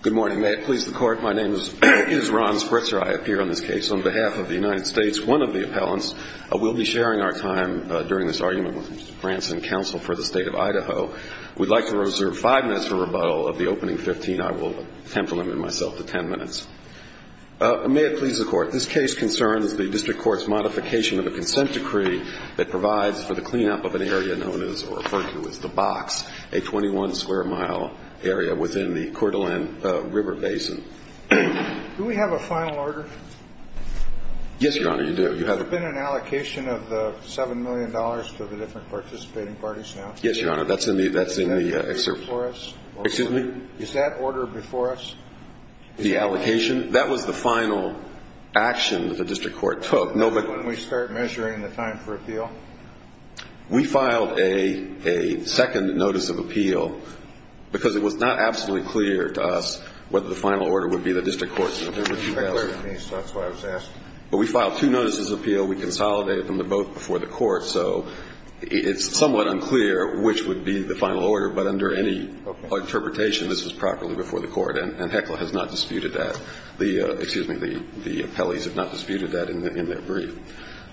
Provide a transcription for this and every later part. Good morning. May it please the Court, my name is Ron Spritzer. I appear on this case on behalf of the United States. One of the appellants will be sharing our time during this argument with Mr. Branson, counsel for the State of Idaho. We'd like to reserve five minutes for rebuttal of the opening 15. I will attempt to limit myself to 10 minutes. May it please the Court, this case concerns the district court's modification of a consent decree that provides for the cleanup of an area known as or referred to as the box, a 21-square-mile area within the Coeur d'Alene River Basin. Do we have a final order? Yes, Your Honor, you do. Has there been an allocation of the $7 million to the different participating parties now? Yes, Your Honor, that's in the excerpt. Is that before us? Excuse me? Is that order before us? The allocation? That was the final action that the district court took. When we start measuring the time for appeal? We filed a second notice of appeal because it was not absolutely clear to us whether the final order would be the district court's. That's what I was asking. But we filed two notices of appeal. We consolidated them. They're both before the court. So it's somewhat unclear which would be the final order. But under any interpretation, this was properly before the court. And HECLA has not disputed that. Excuse me, the appellees have not disputed that in their brief.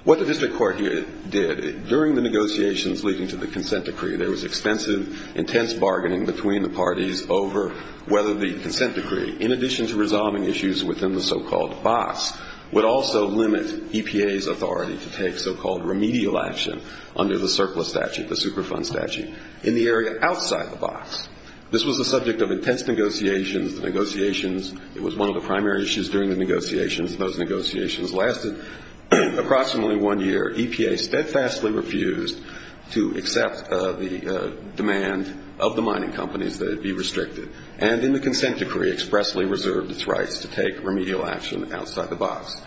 What the district court did, during the negotiations leading to the consent decree, there was extensive, intense bargaining between the parties over whether the consent decree, in addition to resolving issues within the so-called box, would also limit EPA's authority to take so-called remedial action under the surplus statute, the Superfund statute, in the area outside the box. This was the subject of intense negotiations. The negotiations, it was one of the primary issues during the negotiations. Those negotiations lasted approximately one year. EPA steadfastly refused to accept the demand of the mining companies that it be restricted. And in the consent decree, expressly reserved its rights to take remedial action outside the box.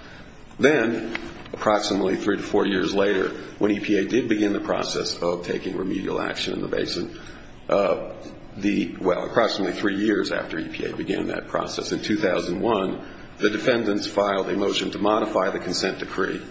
Then, approximately three to four years later, when EPA did begin the process of taking remedial action in the basin, the ‑‑ well, approximately three years after EPA began that process, in 2001, the defendants filed a motion to modify the consent decree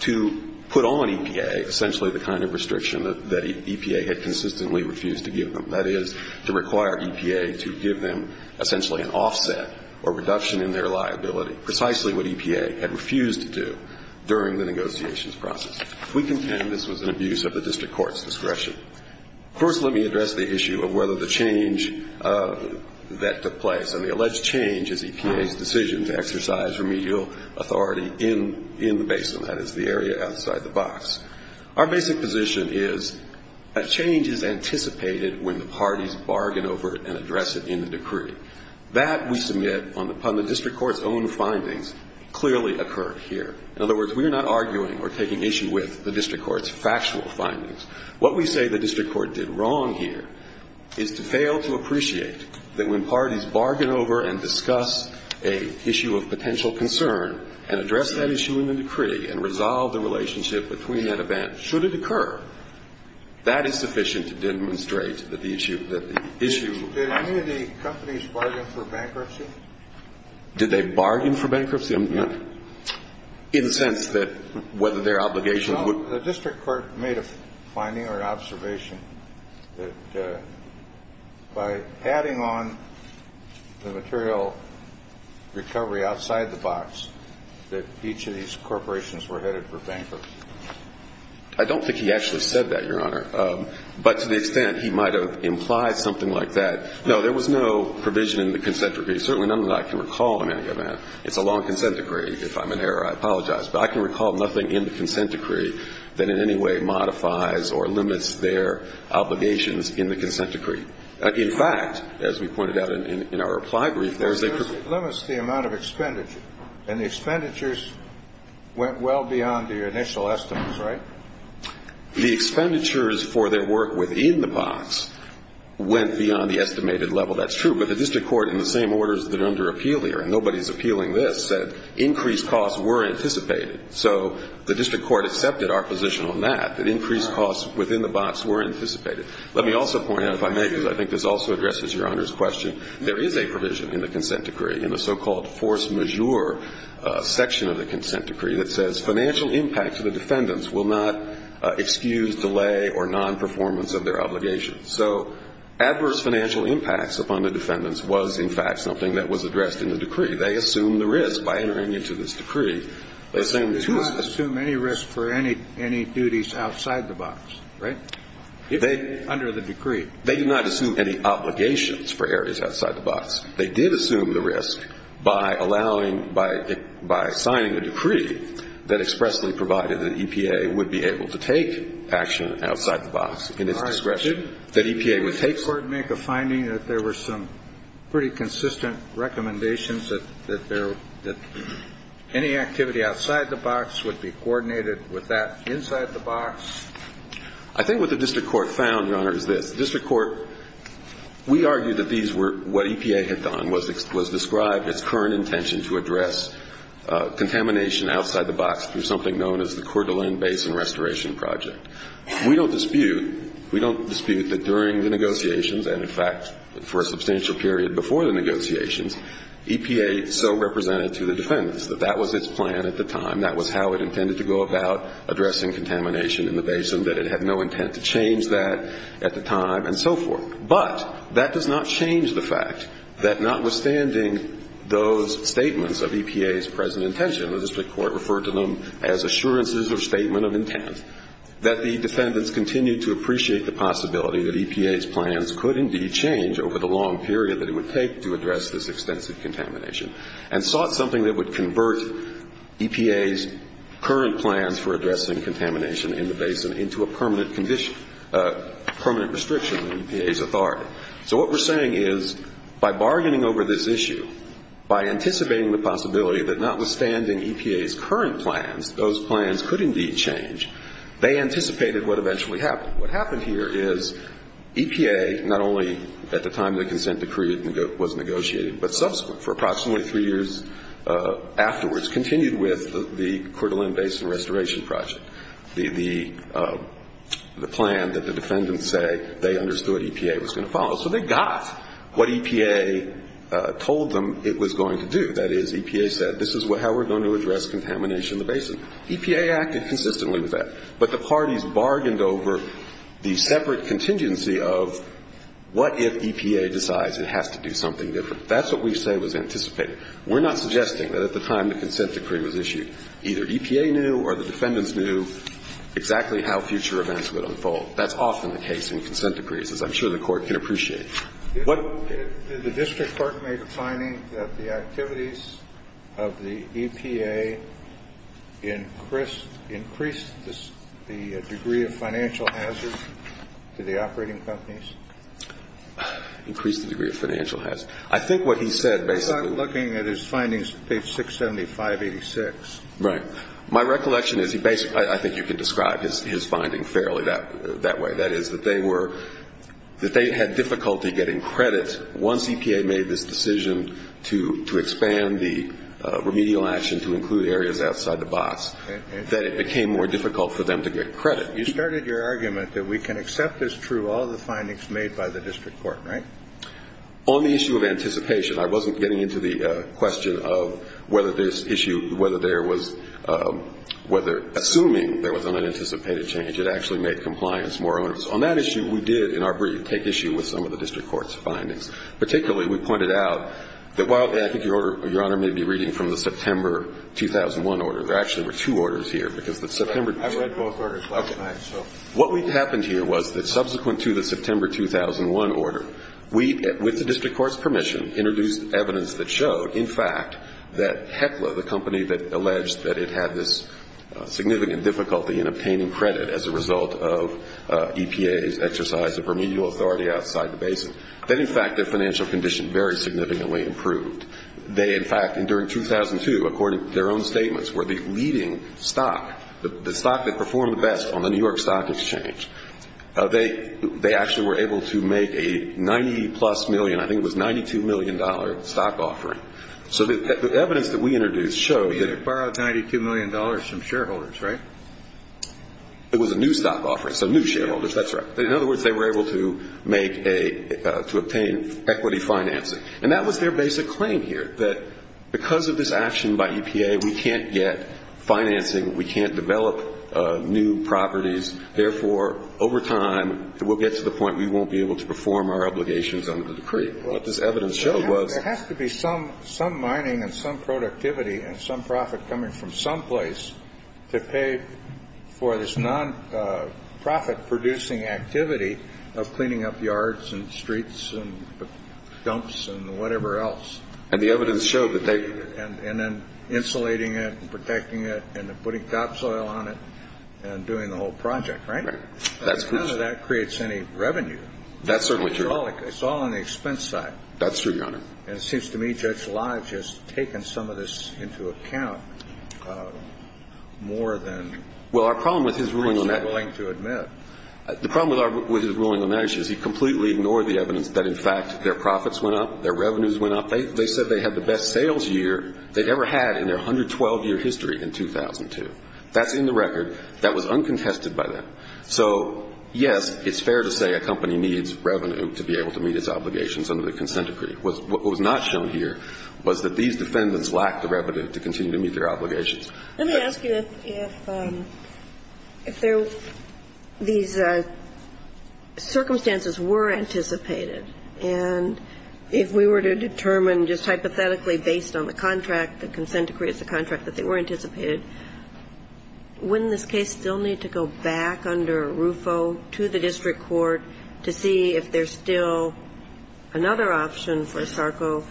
to put on EPA essentially the kind of restriction that EPA had consistently refused to give them, that is, to require EPA to give them essentially an offset or reduction in their liability, precisely what EPA had refused to do during the negotiations process. We contend this was an abuse of the district court's discretion. First, let me address the issue of whether the change that took place and the alleged change is EPA's decision to exercise remedial authority in the basin, that is, the area outside the box. Our basic position is that change is anticipated when the parties bargain over it and address it in the decree. That, we submit, upon the district court's own findings, clearly occurred here. In other words, we are not arguing or taking issue with the district court's factual findings. What we say the district court did wrong here is to fail to appreciate that when parties bargain over and discuss an issue of potential concern and address that issue in the decree and resolve the relationship between that event, should it occur, that is sufficient to demonstrate that the issue of the issue. Did any of the companies bargain for bankruptcy? Did they bargain for bankruptcy? No. In the sense that whether their obligations would? The district court made a finding or an observation that by adding on the material recovery outside the box, that each of these corporations were headed for bankruptcy. I don't think he actually said that, Your Honor. But to the extent he might have implied something like that, no, there was no provision in the consent decree, certainly none that I can recall in any event. It's a long consent decree. If I'm in error, I apologize. But I can recall nothing in the consent decree that in any way modifies or limits their obligations in the consent decree. In fact, as we pointed out in our reply brief, there is a perk. It limits the amount of expenditure. And the expenditures went well beyond the initial estimates, right? The expenditures for their work within the box went beyond the estimated level. That's true. But the district court, in the same orders that are under appeal here, and nobody's appealing this, said increased costs were anticipated. So the district court accepted our position on that, that increased costs within the box were anticipated. Let me also point out, if I may, because I think this also addresses Your Honor's question, there is a provision in the consent decree, in the so-called force majeure section of the consent decree, that says financial impact to the defendants will not excuse delay or nonperformance of their obligations. So adverse financial impacts upon the defendants was, in fact, something that was addressed in the decree. They assumed the risk by entering into this decree. They assumed the excuse. They did not assume any risk for any duties outside the box, right? Under the decree. They did not assume any obligations for areas outside the box. They did assume the risk by allowing, by signing a decree that expressly provided that EPA would be able to take action outside the box in its discretion. Did the district court make a finding that there were some pretty consistent recommendations that there, that any activity outside the box would be coordinated with that inside the box? I think what the district court found, Your Honor, is this. The district court, we argued that these were, what EPA had done was describe its current intention to address contamination outside the box through something known as the Coeur d'Alene Basin Restoration Project. We don't dispute, we don't dispute that during the negotiations and, in fact, for a substantial period before the negotiations, EPA so represented to the defendants that that was its plan at the time, that was how it intended to go about addressing contamination in the basin, that it had no intent to change that at the time and so forth. But that does not change the fact that notwithstanding those statements of EPA's present intention, the district court referred to them as assurances or statement of intent, that the defendants continued to appreciate the possibility that EPA's plans could indeed change over the long period that it would take to address this extensive contamination and sought something that would convert EPA's current plans for addressing contamination in the basin into a permanent restriction of EPA's authority. So what we're saying is by bargaining over this issue, by anticipating the possibility that notwithstanding EPA's current plans, those plans could indeed change, they anticipated what eventually happened. What happened here is EPA, not only at the time the consent decree was negotiated, but subsequent, for approximately three years afterwards, continued with the Coeur d'Alene Basin Restoration Project, the plan that the defendants say they understood EPA was going to follow. So they got what EPA told them it was going to do. That is, EPA said this is how we're going to address contamination in the basin. EPA acted consistently with that. But the parties bargained over the separate contingency of what if EPA decides it has to do something different. That's what we say was anticipated. We're not suggesting that at the time the consent decree was issued, either EPA knew or the defendants knew exactly how future events would unfold. That's often the case in consent decrees, as I'm sure the Court can appreciate. What — The district court made a finding that the activities of the EPA increased the degree of financial hazard to the operating companies? Increased the degree of financial hazard. I think what he said basically — I'm not looking at his findings, page 675-86. Right. My recollection is he basically — I think you can describe his finding fairly that way. That is, that they were — that they had difficulty getting credit once EPA made this decision to expand the remedial action, to include areas outside the box, that it became more difficult for them to get credit. You started your argument that we can accept as true all the findings made by the district court, right? On the issue of anticipation, I wasn't getting into the question of whether this issue — whether there was — whether — assuming there was an unanticipated change, it actually made compliance more onerous. On that issue, we did, in our brief, take issue with some of the district court's findings. Particularly, we pointed out that while — and I think Your Honor may be reading from the September 2001 order. There actually were two orders here, because the September — I read both orders last night, so — What happened here was that subsequent to the September 2001 order, we, with the district court's permission, introduced evidence that showed, in fact, that Heckler, the company that alleged that it had this significant difficulty in obtaining credit as a result of EPA's exercise of remedial authority outside the basin, that, in fact, their financial condition very significantly improved. They, in fact, during 2002, according to their own statements, were the leading stock, the stock that performed the best on the New York Stock Exchange. They actually were able to make a 90-plus million — I think it was $92 million stock offering. So the evidence that we introduced showed that — You borrowed $92 million from shareholders, right? It was a new stock offering, so new shareholders, that's right. In other words, they were able to make a — to obtain equity financing. And that was their basic claim here, that because of this action by EPA, we can't get financing. We can't develop new properties. Therefore, over time, we'll get to the point we won't be able to perform our obligations under the decree. What this evidence showed was — There has to be some mining and some productivity and some profit coming from some place to pay for this non-profit-producing activity of cleaning up yards and streets and dumps and whatever else. And the evidence showed that they — And then insulating it and protecting it and putting topsoil on it and doing the whole project, right? Right. That's correct. None of that creates any revenue. That's certainly true. It's all on the expense side. That's true, Your Honor. And it seems to me Judge Lodge has taken some of this into account more than — Well, our problem with his ruling on that —— he's not willing to admit. The problem with his ruling on that issue is he completely ignored the evidence that, in fact, their profits went up, their revenues went up. They said they had the best sales year they'd ever had in their 112-year history in 2002. That's in the record. That was uncontested by them. So, yes, it's fair to say a company needs revenue to be able to meet its obligations under the consent decree. What was not shown here was that these defendants lacked the revenue to continue to meet their obligations. Let me ask you if these circumstances were anticipated, and if we were to determine just hypothetically based on the contract, the consent decree as a contract, that they were anticipated, wouldn't this case still need to go back under RUFO to the district court to see if there's still another option for SARCO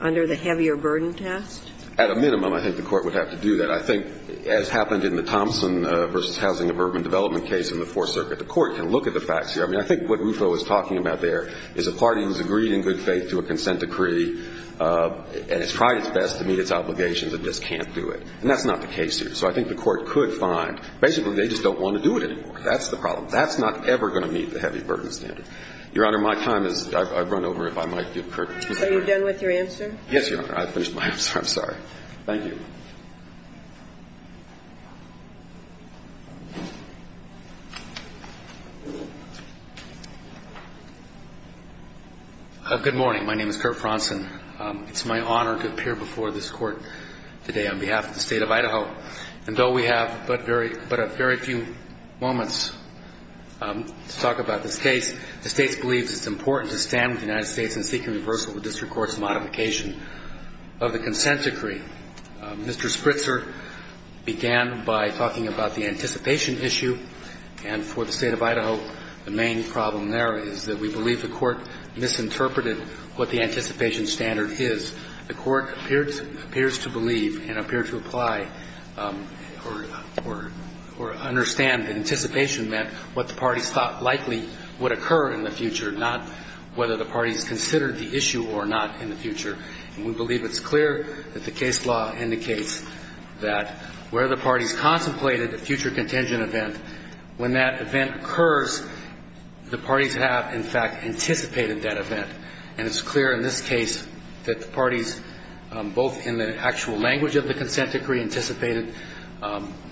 under the heavier burden test? At a minimum, I think the court would have to do that. I think, as happened in the Thompson v. Housing and Urban Development case in the Fourth Circuit, the court can look at the facts here. I mean, I think what RUFO is talking about there is a party who's agreed in good faith to a consent decree and has tried its best to meet its obligations and just can't do it. And that's not the case here. So I think the court could find basically they just don't want to do it anymore. That's the problem. That's not ever going to meet the heavy burden standard. Your Honor, my time is up. I'd run over if I might. Are you done with your answer? Yes, Your Honor. I finished my answer. I'm sorry. Thank you. Thank you. Good morning. My name is Kurt Fronson. It's my honor to appear before this court today on behalf of the state of Idaho. And though we have but a very few moments to talk about this case, the state believes it's important to stand with the United States in seeking reversal of the district court's modification of the consent decree. Mr. Spritzer began by talking about the anticipation issue. And for the state of Idaho, the main problem there is that we believe the court misinterpreted what the anticipation standard is. The court appears to believe and appear to apply or understand that anticipation meant what the parties thought likely would occur in the future, not whether the parties considered the issue or not in the future. And we believe it's clear that the case law indicates that where the parties contemplated a future contingent event, when that event occurs, the parties have, in fact, anticipated that event. And it's clear in this case that the parties, both in the actual language of the consent decree anticipated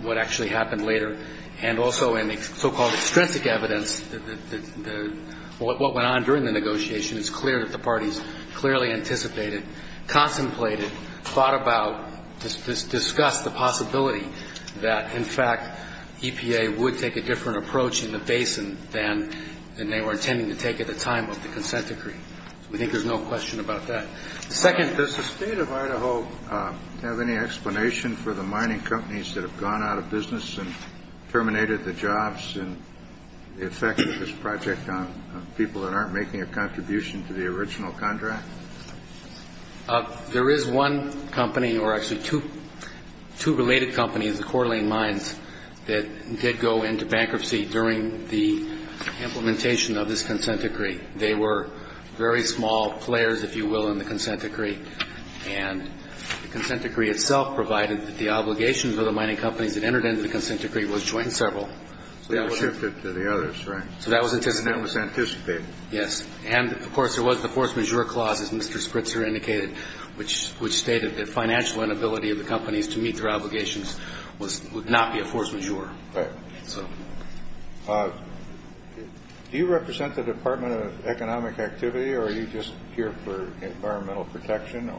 what actually happened later, and also in the so-called extrinsic evidence that what went on during the negotiation, it's clear that the parties clearly anticipated, contemplated, thought about, discussed the possibility that, in fact, EPA would take a different approach in the basin than they were intending to take at the time of the consent decree. We think there's no question about that. Second, does the State of Idaho have any explanation for the mining companies that have gone out of business and terminated the jobs in effect of this project on people that aren't making a contribution to the original contract? There is one company, or actually two related companies, the Coeur d'Alene Mines, that did go into bankruptcy during the implementation of this consent decree. They were very small players, if you will, in the consent decree. And the consent decree itself provided that the obligation for the mining companies that entered into the consent decree was to join several. So that was shifted to the others, right? So that was anticipated. And that was anticipated. Yes. And, of course, there was the force majeure clause, as Mr. Spritzer indicated, which stated that financial inability of the companies to meet their obligations would not be a force majeure. Right. Do you represent the Department of Economic Activity, or are you just here for environmental protection?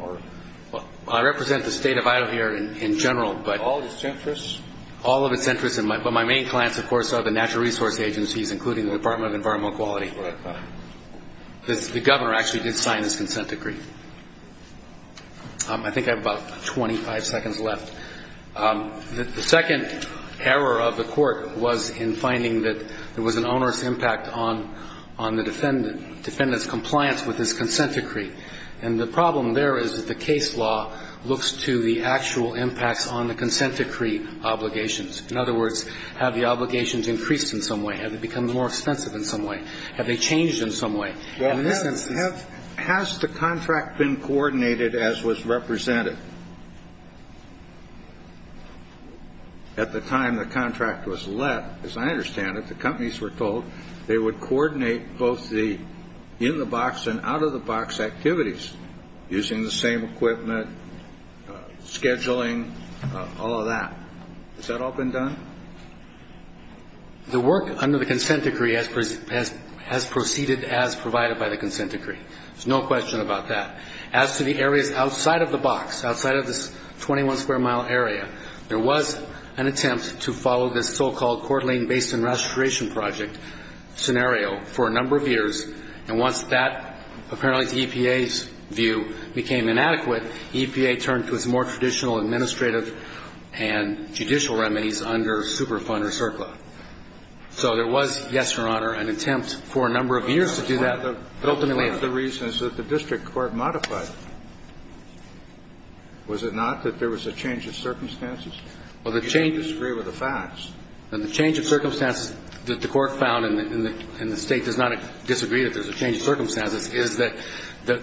I represent the State of Idaho here in general. All of its interests? All of its interests, but my main clients, of course, are the natural resource agencies, including the Department of Environmental Quality. That's what I thought. The governor actually did sign this consent decree. I think I have about 25 seconds left. The second error of the Court was in finding that there was an onerous impact on the defendant's compliance with his consent decree. And the problem there is that the case law looks to the actual impacts on the consent decree obligations. In other words, have the obligations increased in some way? Have they become more expensive in some way? Have they changed in some way? Has the contract been coordinated as was represented? At the time the contract was let, as I understand it, the companies were told they would coordinate both the in-the-box and out-of-the-box activities, using the same equipment, scheduling, all of that. Has that all been done? The work under the consent decree has proceeded as provided by the consent decree. There's no question about that. As to the areas outside of the box, outside of this 21-square-mile area, there was an attempt to follow this so-called Coeur d'Alene Basin Restoration Project scenario for a number of years. And once that, apparently the EPA's view, became inadequate, EPA turned to its more traditional administrative and judicial remedies under Superfund or CERPA. So there was, yes, Your Honor, an attempt for a number of years to do that. But ultimately the reason is that the district court modified it. Was it not that there was a change of circumstances? You don't disagree with the facts. The change of circumstances that the court found, is that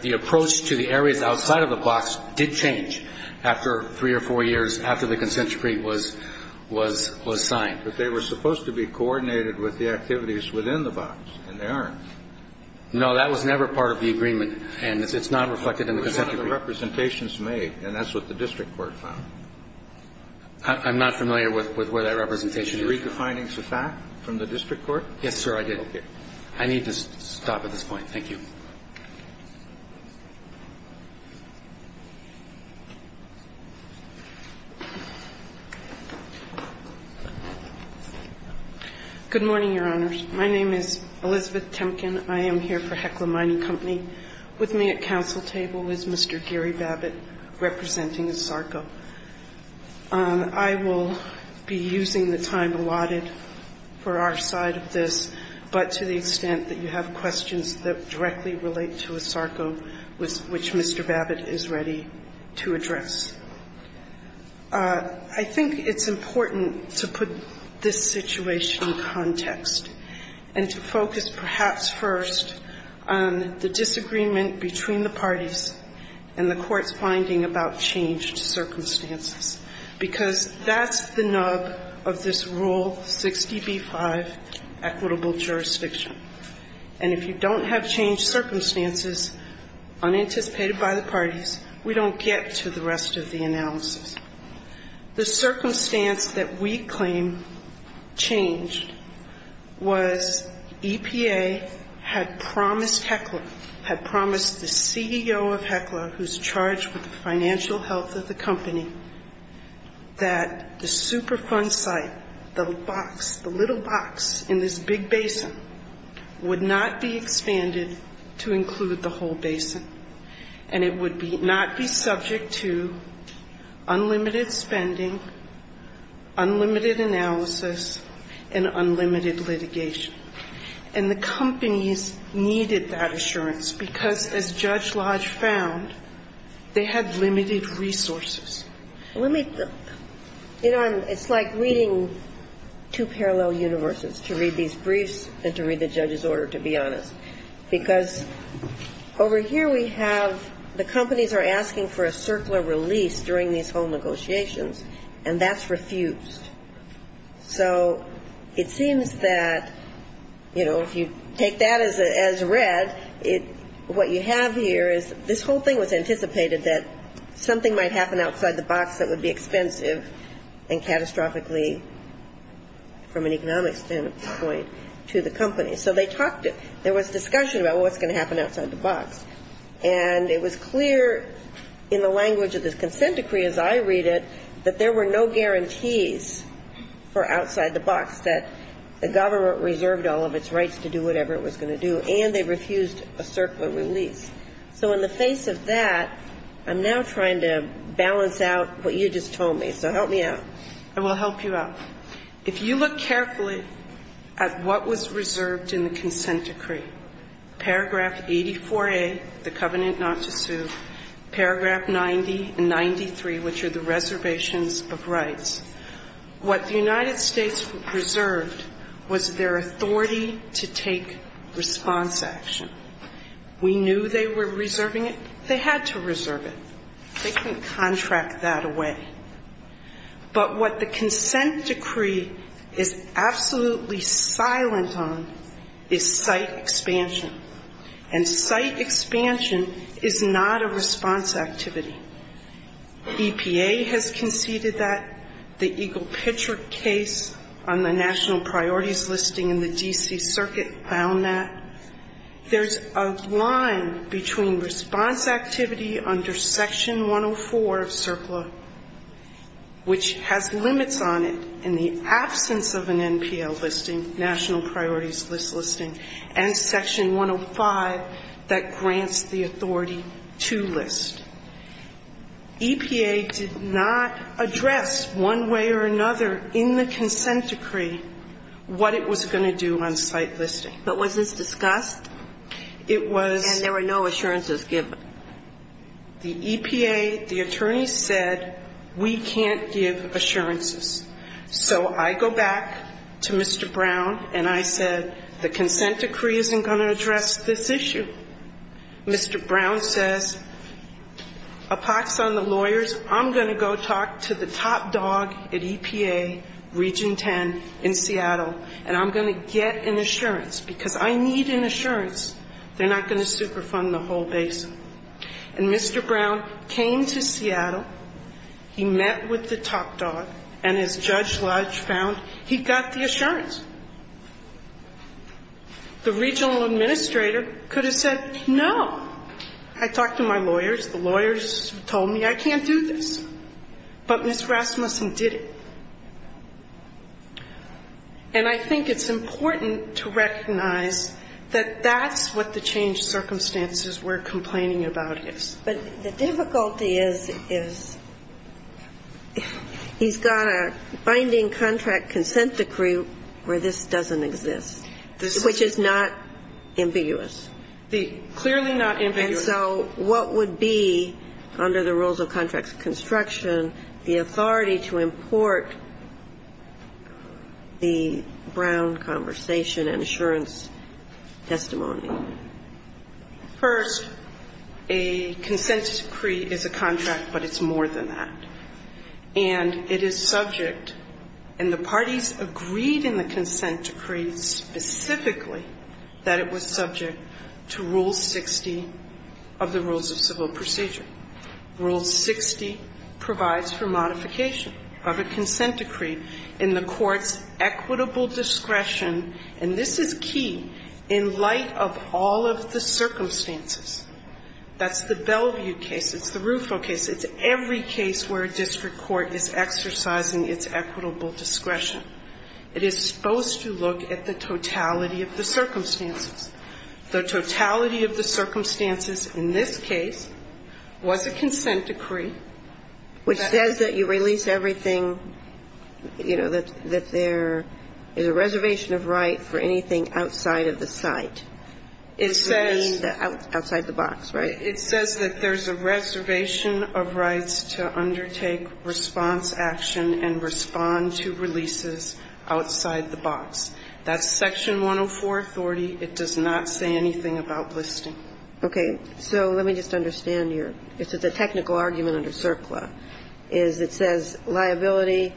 the approach to the areas outside of the box did change after three or four years, after the consent decree was signed. But they were supposed to be coordinated with the activities within the box, and they aren't. No, that was never part of the agreement. And it's not reflected in the consent decree. What about the representations made? And that's what the district court found. I'm not familiar with where that representation is. Did you read the findings of that from the district court? Yes, sir, I did. Okay. I need to stop at this point. Thank you. Good morning, Your Honors. My name is Elizabeth Temkin. I am here for Hekla Mining Company. With me at counsel table is Mr. Gary Babbitt, representing SARCO. I will be using the time allotted for our side of this, but to the extent that you have questions that directly relate to SARCO, which Mr. Babbitt is ready to address. I think it's important to put this situation in context and to focus perhaps first on the disagreement between the parties and the court's finding about changed circumstances, because that's the nub of this Rule 60b-5 equitable jurisdiction. And if you don't have changed circumstances unanticipated by the parties, we don't The circumstance that we claim changed was EPA had promised Hekla, had promised the CEO of Hekla, who's charged with the financial health of the company, that the Superfund site, the box, the little box in this big basin, would not be expanded to include the limited spending, unlimited analysis, and unlimited litigation. And the companies needed that assurance because, as Judge Lodge found, they had limited resources. Let me, you know, it's like reading two parallel universes, to read these briefs and to read the judge's order, to be honest. Because over here we have the companies are asking for a circular release during these whole negotiations, and that's refused. So it seems that, you know, if you take that as read, what you have here is this whole thing was anticipated that something might happen outside the box that would be expensive and catastrophically, from an economic standpoint, to the company. So they talked, there was discussion about what's going to happen outside the box. And it was clear in the language of this consent decree, as I read it, that there were no guarantees for outside the box, that the government reserved all of its rights to do whatever it was going to do, and they refused a circular release. So in the face of that, I'm now trying to balance out what you just told me. So help me out. I will help you out. If you look carefully at what was reserved in the consent decree, paragraph 84A, the covenant not to sue, paragraph 90 and 93, which are the reservations of rights, what the United States reserved was their authority to take response action. We knew they were reserving it. They had to reserve it. They couldn't contract that away. But what the consent decree is absolutely silent on is site expansion, and site expansion is not a response activity. EPA has conceded that. The Eagle Pitcher case on the national priorities listing in the D.C. Section 104 of CERCLA, which has limits on it in the absence of an NPL listing, national priorities list listing, and section 105 that grants the authority to list. EPA did not address one way or another in the consent decree what it was going to do on site listing. But was this discussed? It was. And there were no assurances given. The EPA, the attorneys said, we can't give assurances. So I go back to Mr. Brown and I said, the consent decree isn't going to address this issue. Mr. Brown says, a pox on the lawyers, I'm going to go talk to the top dog at EPA, Region 10 in Seattle, and I'm going to get an assurance, because I need an assurance they're not going to superfund the whole basin. And Mr. Brown came to Seattle. He met with the top dog. And as Judge Lodge found, he got the assurance. The regional administrator could have said, no. I talked to my lawyers. The lawyers told me I can't do this. But Ms. Rasmussen did it. And I think it's important to recognize that that's what the changed circumstances we're complaining about is. But the difficulty is, is he's got a binding contract consent decree where this doesn't exist, which is not ambiguous. Clearly not ambiguous. And so what would be, under the rules of contracts construction, the authority to import the Brown conversation and assurance testimony? First, a consent decree is a contract, but it's more than that. And it is subject, and the parties agreed in the consent decree specifically that it was subject to Rule 60 of the Rules of Civil Procedure. Rule 60 provides for modification of a consent decree in the court's equitable discretion, and this is key, in light of all of the circumstances. That's the Bellevue case. It's the Rufo case. It's every case where a district court is exercising its equitable discretion. It is supposed to look at the totality of the circumstances. The totality of the circumstances in this case was a consent decree. Which says that you release everything, you know, that there is a reservation of right for anything outside of the site. It says. Outside the box, right? It says that there's a reservation of rights to undertake response action and respond to releases outside the box. That's Section 104 authority. It does not say anything about listing. Okay. So let me just understand here. It's a technical argument under CERCLA. It says liability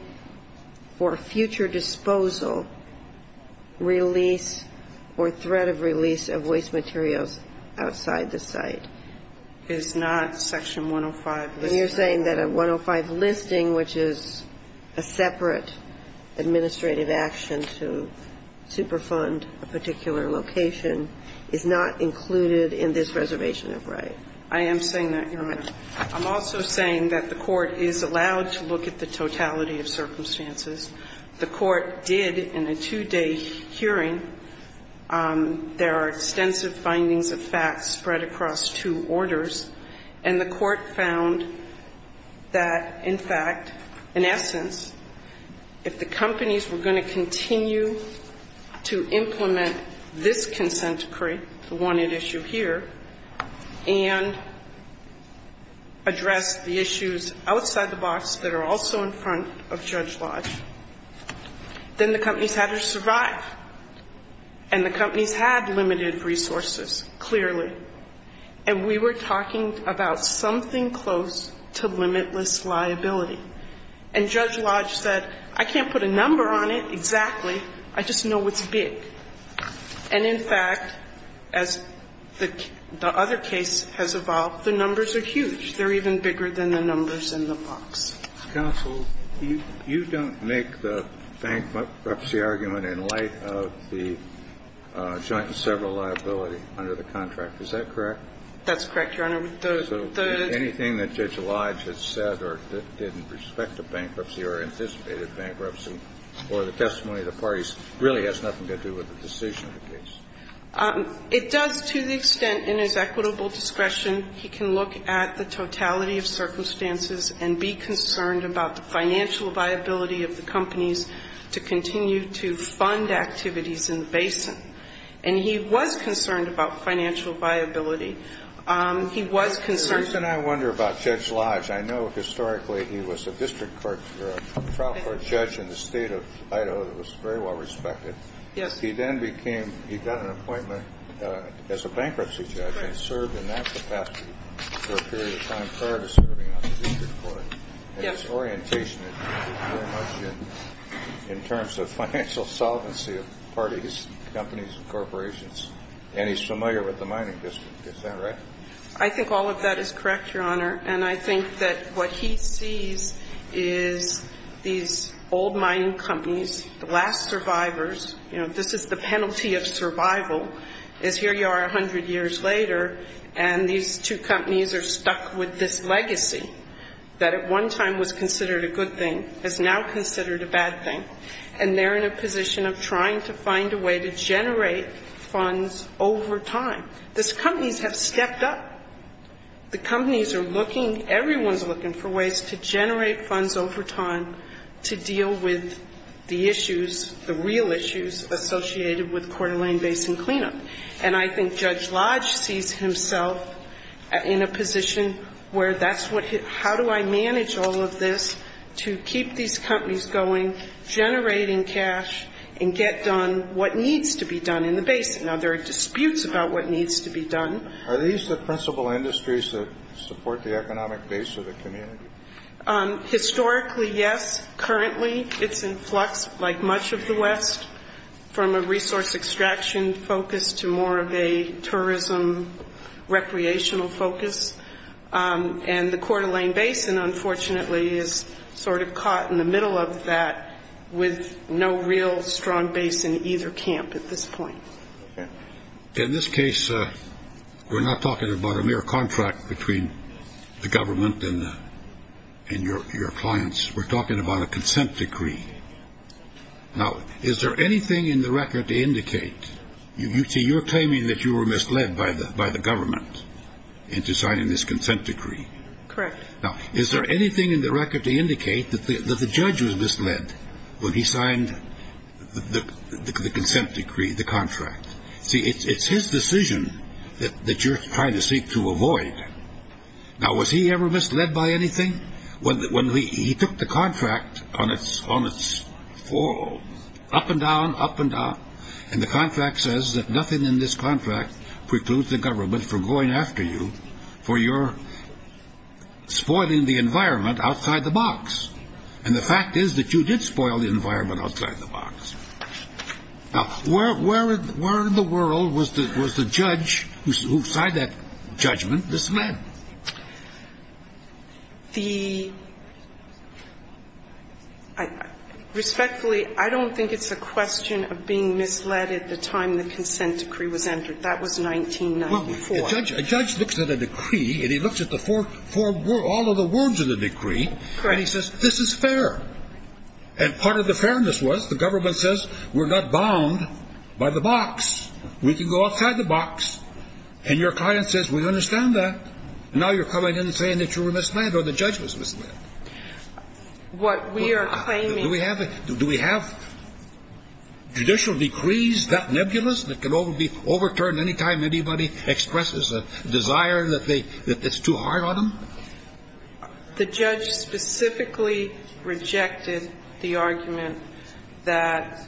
for future disposal, release, or threat of release of waste materials outside the site. It's not Section 105. And you're saying that a 105 listing, which is a separate administrative action to superfund a particular location, is not included in this reservation of right? I am saying that, Your Honor. I'm also saying that the court is allowed to look at the totality of circumstances. The court did in a two-day hearing. There are extensive findings of facts spread across two orders. And the court found that, in fact, in essence, if the companies were going to continue to implement this consent decree, the one at issue here, and address the issues outside the box that are also in front of Judge Lodge, then the companies had to survive. And the companies had limited resources, clearly. And we were talking about something close to limitless liability. And Judge Lodge said, I can't put a number on it exactly. I just know it's big. And, in fact, as the other case has evolved, the numbers are huge. They're even bigger than the numbers in the box. Kennedy, you don't make the bankruptcy argument in light of the joint and several other cases. and be concerned about the financial liability under the contract. Is that correct? That's correct, Your Honor. The ---- So anything that Judge Lodge has said or didn't respect the bankruptcy or anticipated bankruptcy or the testimony of the parties really has nothing to do with the decision of the case? It does to the extent in his equitable discretion he can look at the totality of circumstances and be concerned about the financial viability of the companies to continue to fund activities in the basin. And he was concerned about financial viability. He was concerned ---- The reason I wonder about Judge Lodge, I know historically he was a district court trial court judge in the State of Idaho that was very well respected. Yes. But he then became ---- he got an appointment as a bankruptcy judge and served in that capacity for a period of time prior to serving on the district court. Yes. And his orientation is very much in terms of financial solvency of parties, companies, and corporations. And he's familiar with the mining district. Is that right? I think all of that is correct, Your Honor. And I think that what he sees is these old mining companies, the last survivors ---- you know, this is the penalty of survival is here you are 100 years later and these two companies are stuck with this legacy that at one time was considered a good thing, is now considered a bad thing. And they're in a position of trying to find a way to generate funds over time. These companies have stepped up. The companies are looking, everyone's looking for ways to generate funds over time to deal with the issues, the real issues associated with Coeur d'Alene Basin cleanup. And I think Judge Lodge sees himself in a position where that's what ---- how do I manage all of this to keep these companies going, generating cash, and get done what needs to be done in the basin? Now, there are disputes about what needs to be done. Are these the principal industries that support the economic base of the community? Historically, yes. Currently, it's in flux like much of the west, from a resource extraction focus to more of a tourism recreational focus. And the Coeur d'Alene Basin, unfortunately, is sort of caught in the middle of that with no real strong base in either camp at this point. In this case, we're not talking about a mere contract between the government and your clients. We're talking about a consent decree. Now, is there anything in the record to indicate ---- you're claiming that you were misled by the government into signing this consent decree. Correct. Now, is there anything in the record to indicate that the judge was misled when he See, it's his decision that you're trying to seek to avoid. Now, was he ever misled by anything? He took the contract on its fall, up and down, up and down. And the contract says that nothing in this contract precludes the government from going after you for your spoiling the environment outside the box. And the fact is that you did spoil the environment outside the box. Now, where in the world was the judge who signed that judgment misled? The ---- respectfully, I don't think it's a question of being misled at the time the consent decree was entered. That was 1994. Well, a judge looks at a decree, and he looks at the four ---- all of the words of the decree. Correct. And he says, this is fair. And part of the fairness was the government says, we're not bound by the box. We can go outside the box. And your client says, we understand that. Now you're coming in and saying that you were misled or the judge was misled. What we are claiming ---- Do we have judicial decrees that nebulous that can be overturned any time anybody expresses a desire that they ---- that it's too hard on them? The judge specifically rejected the argument that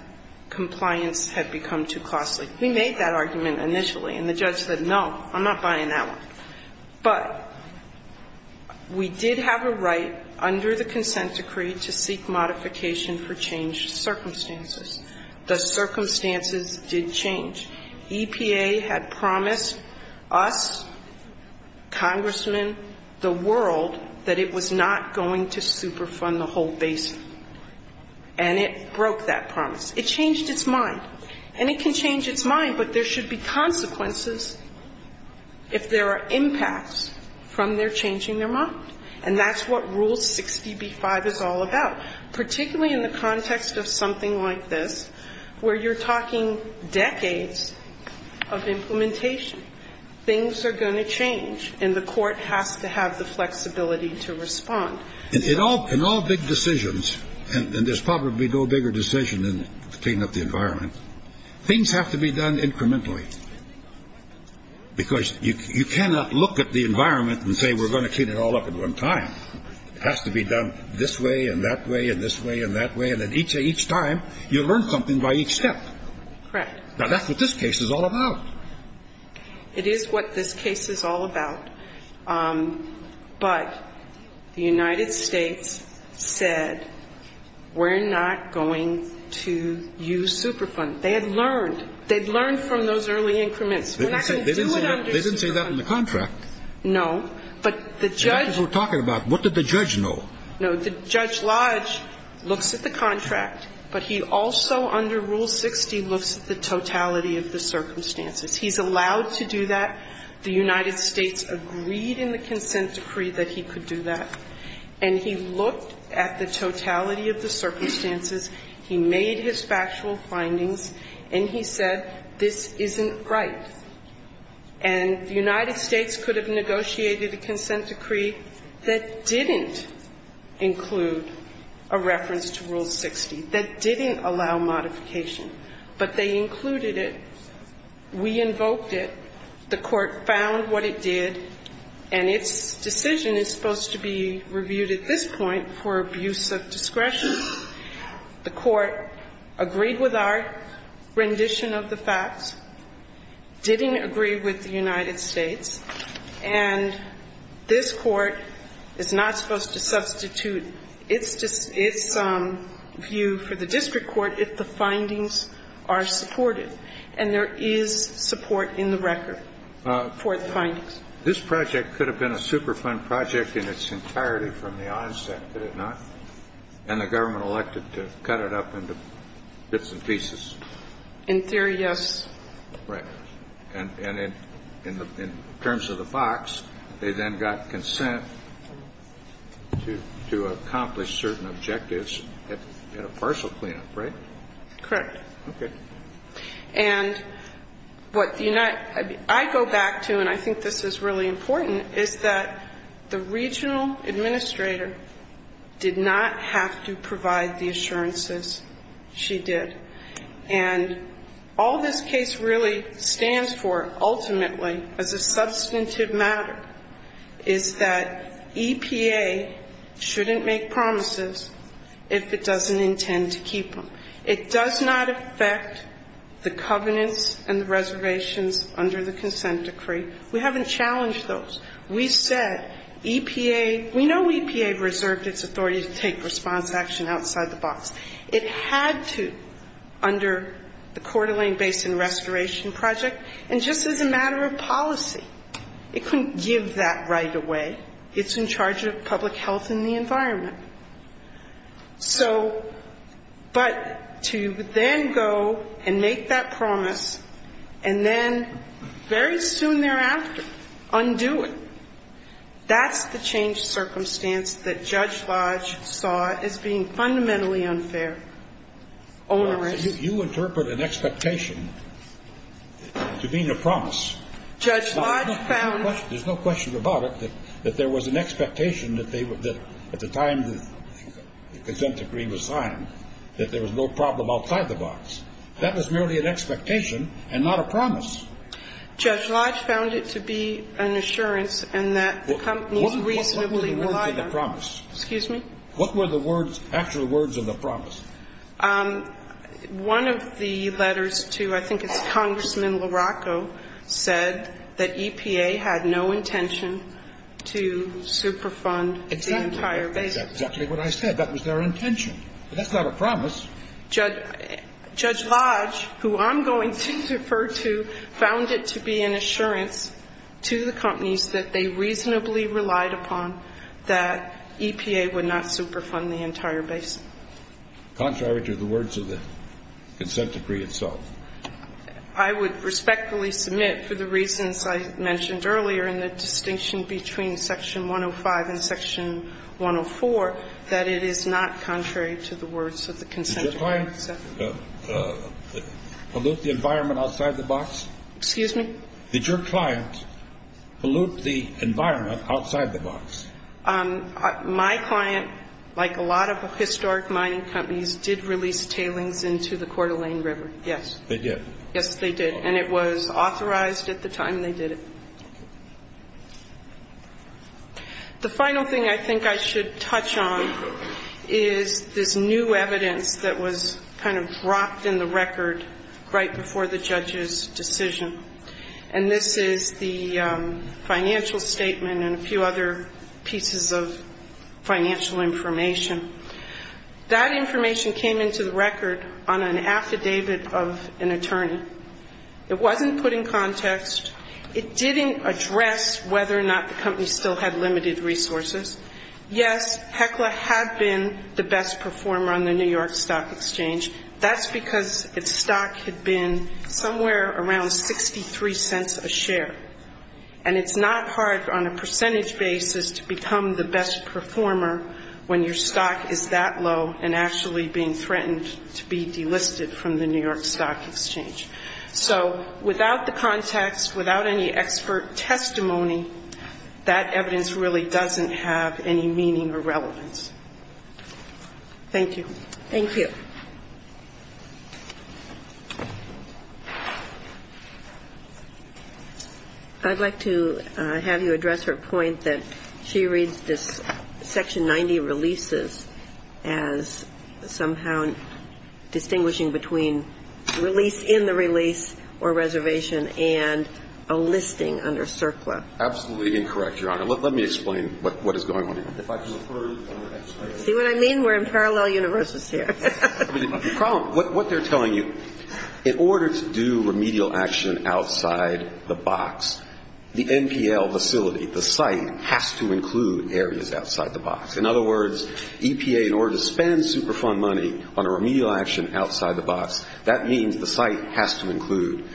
compliance had become too costly. We made that argument initially. And the judge said, no, I'm not buying that one. But we did have a right under the consent decree to seek modification for changed circumstances. The circumstances did change. EPA had promised us, congressmen, the world, that it was not going to superfund the whole basin. And it broke that promise. It changed its mind. And it can change its mind, but there should be consequences if there are impacts from their changing their mind. And that's what Rule 60b-5 is all about, particularly in the context of something like this, where you're talking decades of implementation. Things are going to change. And the court has to have the flexibility to respond. In all big decisions, and there's probably no bigger decision than cleaning up the environment, things have to be done incrementally. Because you cannot look at the environment and say we're going to clean it all up at one time. It has to be done this way and that way and this way and that way. And each time, you learn something by each step. Correct. Now, that's what this case is all about. It is what this case is all about. But the United States said we're not going to use superfund. They had learned. They had learned from those early increments. We're not going to do it under superfund. They didn't say that in the contract. No. But the judge. That's what we're talking about. What did the judge know? No. The judge Lodge looks at the contract, but he also, under Rule 60, looks at the totality of the circumstances. He's allowed to do that. The United States agreed in the consent decree that he could do that. And he looked at the totality of the circumstances. He made his factual findings. And he said this isn't right. And the United States could have negotiated a consent decree that didn't include a reference to Rule 60, that didn't allow modification. But they included it. We invoked it. The Court found what it did. And its decision is supposed to be reviewed at this point for abuse of discretion. The Court agreed with our rendition of the facts, didn't agree with the United States. And this Court is not supposed to substitute its view for the district court if the findings are supported, and there is support in the record for the findings. This project could have been a superfund project in its entirety from the onset, could it not? And the government elected to cut it up into bits and pieces. In theory, yes. Right. And in terms of the box, they then got consent to accomplish certain objectives at a partial cleanup, right? Correct. Okay. And what I go back to, and I think this is really important, is that the regional administrator did not have to provide the assurances she did. And all this case really stands for, ultimately, as a substantive matter, is that EPA shouldn't make promises if it doesn't intend to keep them. It does not affect the covenants and the reservations under the consent decree. We haven't challenged those. We said EPA, we know EPA reserved its authority to take response action outside the box. It had to under the Coeur d'Alene Basin Restoration Project. And just as a matter of policy, it couldn't give that right away. It's in charge of public health and the environment. So, but to then go and make that promise and then very soon thereafter undo it, that's the changed circumstance that Judge Lodge saw as being fundamentally unfair, onerous. You interpret an expectation to being a promise. Judge Lodge found. There's no question about it, that there was an expectation that at the time the consent decree was signed, that there was no problem outside the box. That was merely an expectation and not a promise. Judge Lodge found it to be an assurance and that the companies reasonably relied on it. What were the words of the promise? Excuse me? What were the words, actual words of the promise? One of the letters to, I think it's Congressman LaRocco, said that EPA had no intention to superfund the entire basin. That's exactly what I said. That was their intention. That's not a promise. Judge Lodge, who I'm going to refer to, found it to be an assurance to the companies that they reasonably relied upon that EPA would not superfund the entire basin. Contrary to the words of the consent decree itself. I would respectfully submit for the reasons I mentioned earlier in the distinction between section 105 and section 104, that it is not contrary to the words of the consent decree. Did your client pollute the environment outside the box? Excuse me? Did your client pollute the environment outside the box? My client, like a lot of historic mining companies, did release tailings into the Coeur d'Alene River, yes. They did? Yes, they did. And it was authorized at the time they did it. The final thing I think I should touch on is this new evidence that was kind of dropped in the record right before the judge's decision. And this is the financial statement and a few other pieces of financial information. That information came into the record on an affidavit of an attorney. It wasn't put in context. It didn't address whether or not the company still had limited resources. Yes, Heckler had been the best performer on the New York Stock Exchange. That's because its stock had been somewhere around 63 cents a share. And it's not hard on a percentage basis to become the best performer when your stock is that low and actually being threatened to be delisted from the New York Stock Exchange. So without the context, without any expert testimony, that evidence really doesn't have any meaning or relevance. Thank you. Thank you. I'd like to have you address her point that she reads this Section 90 releases as somehow distinguishing between release in the release or reservation and a listing under CERCLA. Absolutely incorrect, Your Honor. Let me explain what is going on here. See what I mean? We're in parallel universes here. The problem, what they're telling you, in order to do remedial action outside the box, the NPL facility, the site, has to include areas outside the box. In other words, EPA, in order to spend Superfund money on a remedial action outside the box, that means the site has to include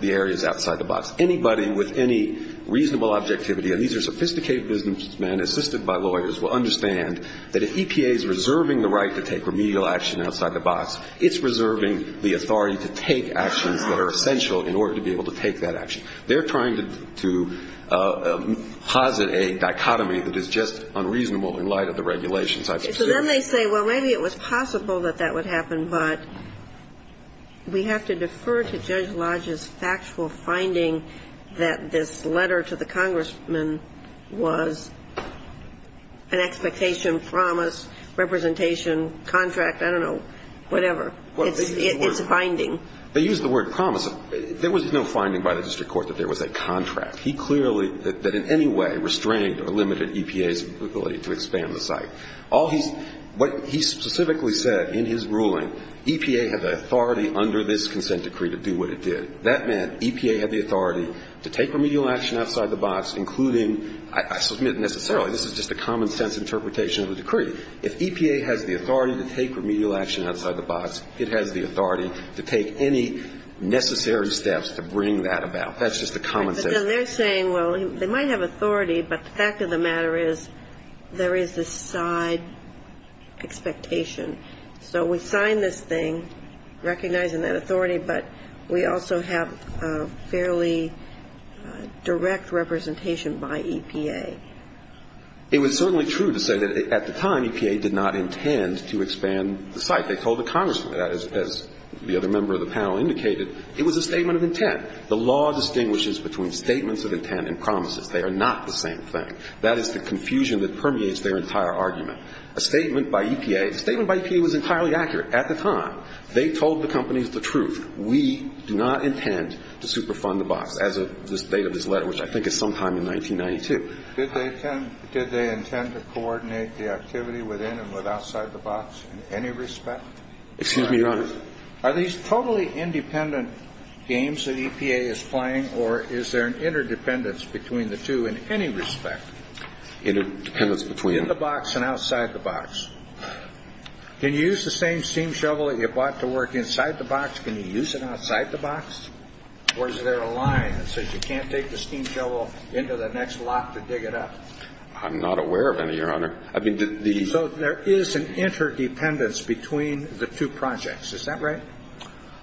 the areas outside the box. Anybody with any reasonable objectivity, and these are sophisticated businessmen assisted by lawyers, will understand that if EPA is reserving the right to take remedial action outside the box, it's reserving the authority to take actions that are essential in order to be able to take that action. And so they're trying to make a dichotomy. They're trying to posit a dichotomy that is just unreasonable in light of the regulations. So then they say, well, maybe it was possible that that would happen, but we have to defer to Judge Lodge's factual finding that this letter to the congressman was an expectation, promise, representation, contract, I don't know, whatever. It's a finding. They use the word promise. There was no finding by the district court that there was a contract. He clearly, that in any way, restrained or limited EPA's ability to expand the site. All he's, what he specifically said in his ruling, EPA had the authority under this consent decree to do what it did. That meant EPA had the authority to take remedial action outside the box, including, if EPA has the authority to take remedial action outside the box, it has the authority to take any necessary steps to bring that about. That's just a common sense. But then they're saying, well, they might have authority, but the fact of the matter is there is this side expectation. So we sign this thing recognizing that authority, but we also have fairly direct representation by EPA. It was certainly true to say that at the time EPA did not intend to expand the site. They told the congressman, as the other member of the panel indicated, it was a statement of intent. The law distinguishes between statements of intent and promises. They are not the same thing. That is the confusion that permeates their entire argument. A statement by EPA, a statement by EPA was entirely accurate at the time. They told the companies the truth. We do not intend to superfund the box as of the date of this letter, which I think is sometime in 1992. Did they intend to coordinate the activity within and with outside the box in any respect? Excuse me, Your Honor. Are these totally independent games that EPA is playing, or is there an interdependence between the two in any respect? Interdependence between? In the box and outside the box. Can you use it outside the box? Or is there a line that says you can't take the steam shovel into the next lot to dig it up? I'm not aware of any, Your Honor. So there is an interdependence between the two projects. Is that right?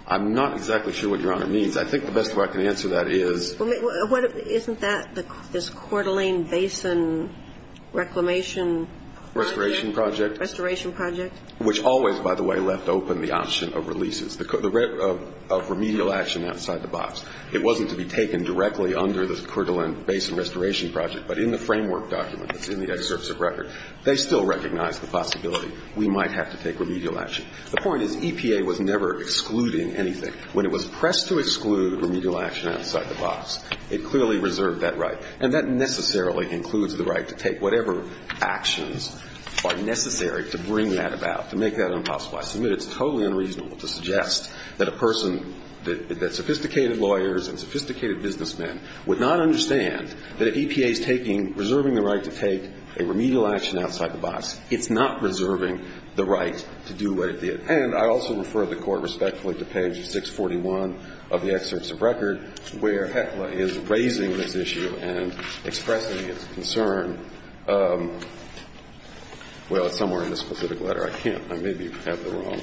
I'm not exactly sure what Your Honor means. I think the best way I can answer that is. Isn't that this Coeur d'Alene Basin reclamation project? Restoration project. Restoration project. Which always, by the way, left open the option of releases. The right of remedial action outside the box. It wasn't to be taken directly under the Coeur d'Alene Basin restoration project, but in the framework document that's in the excerpts of record, they still recognize the possibility we might have to take remedial action. The point is EPA was never excluding anything. When it was pressed to exclude remedial action outside the box, it clearly reserved that right. And that necessarily includes the right to take whatever actions are necessary to bring that about, to make that impossible. I submit it's totally unreasonable to suggest that a person that sophisticated lawyers and sophisticated businessmen would not understand that if EPA is taking reserving the right to take a remedial action outside the box, it's not reserving the right to do what it did. And I also refer the Court respectfully to page 641 of the excerpts of record, where Heckler is raising this issue and expressing his concern. Well, it's somewhere in this specific letter. I can't. I maybe have the wrong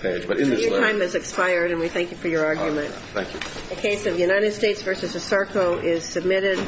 page. But in this letter. Your time has expired, and we thank you for your argument. Thank you. The case of United States v. Esarco is submitted.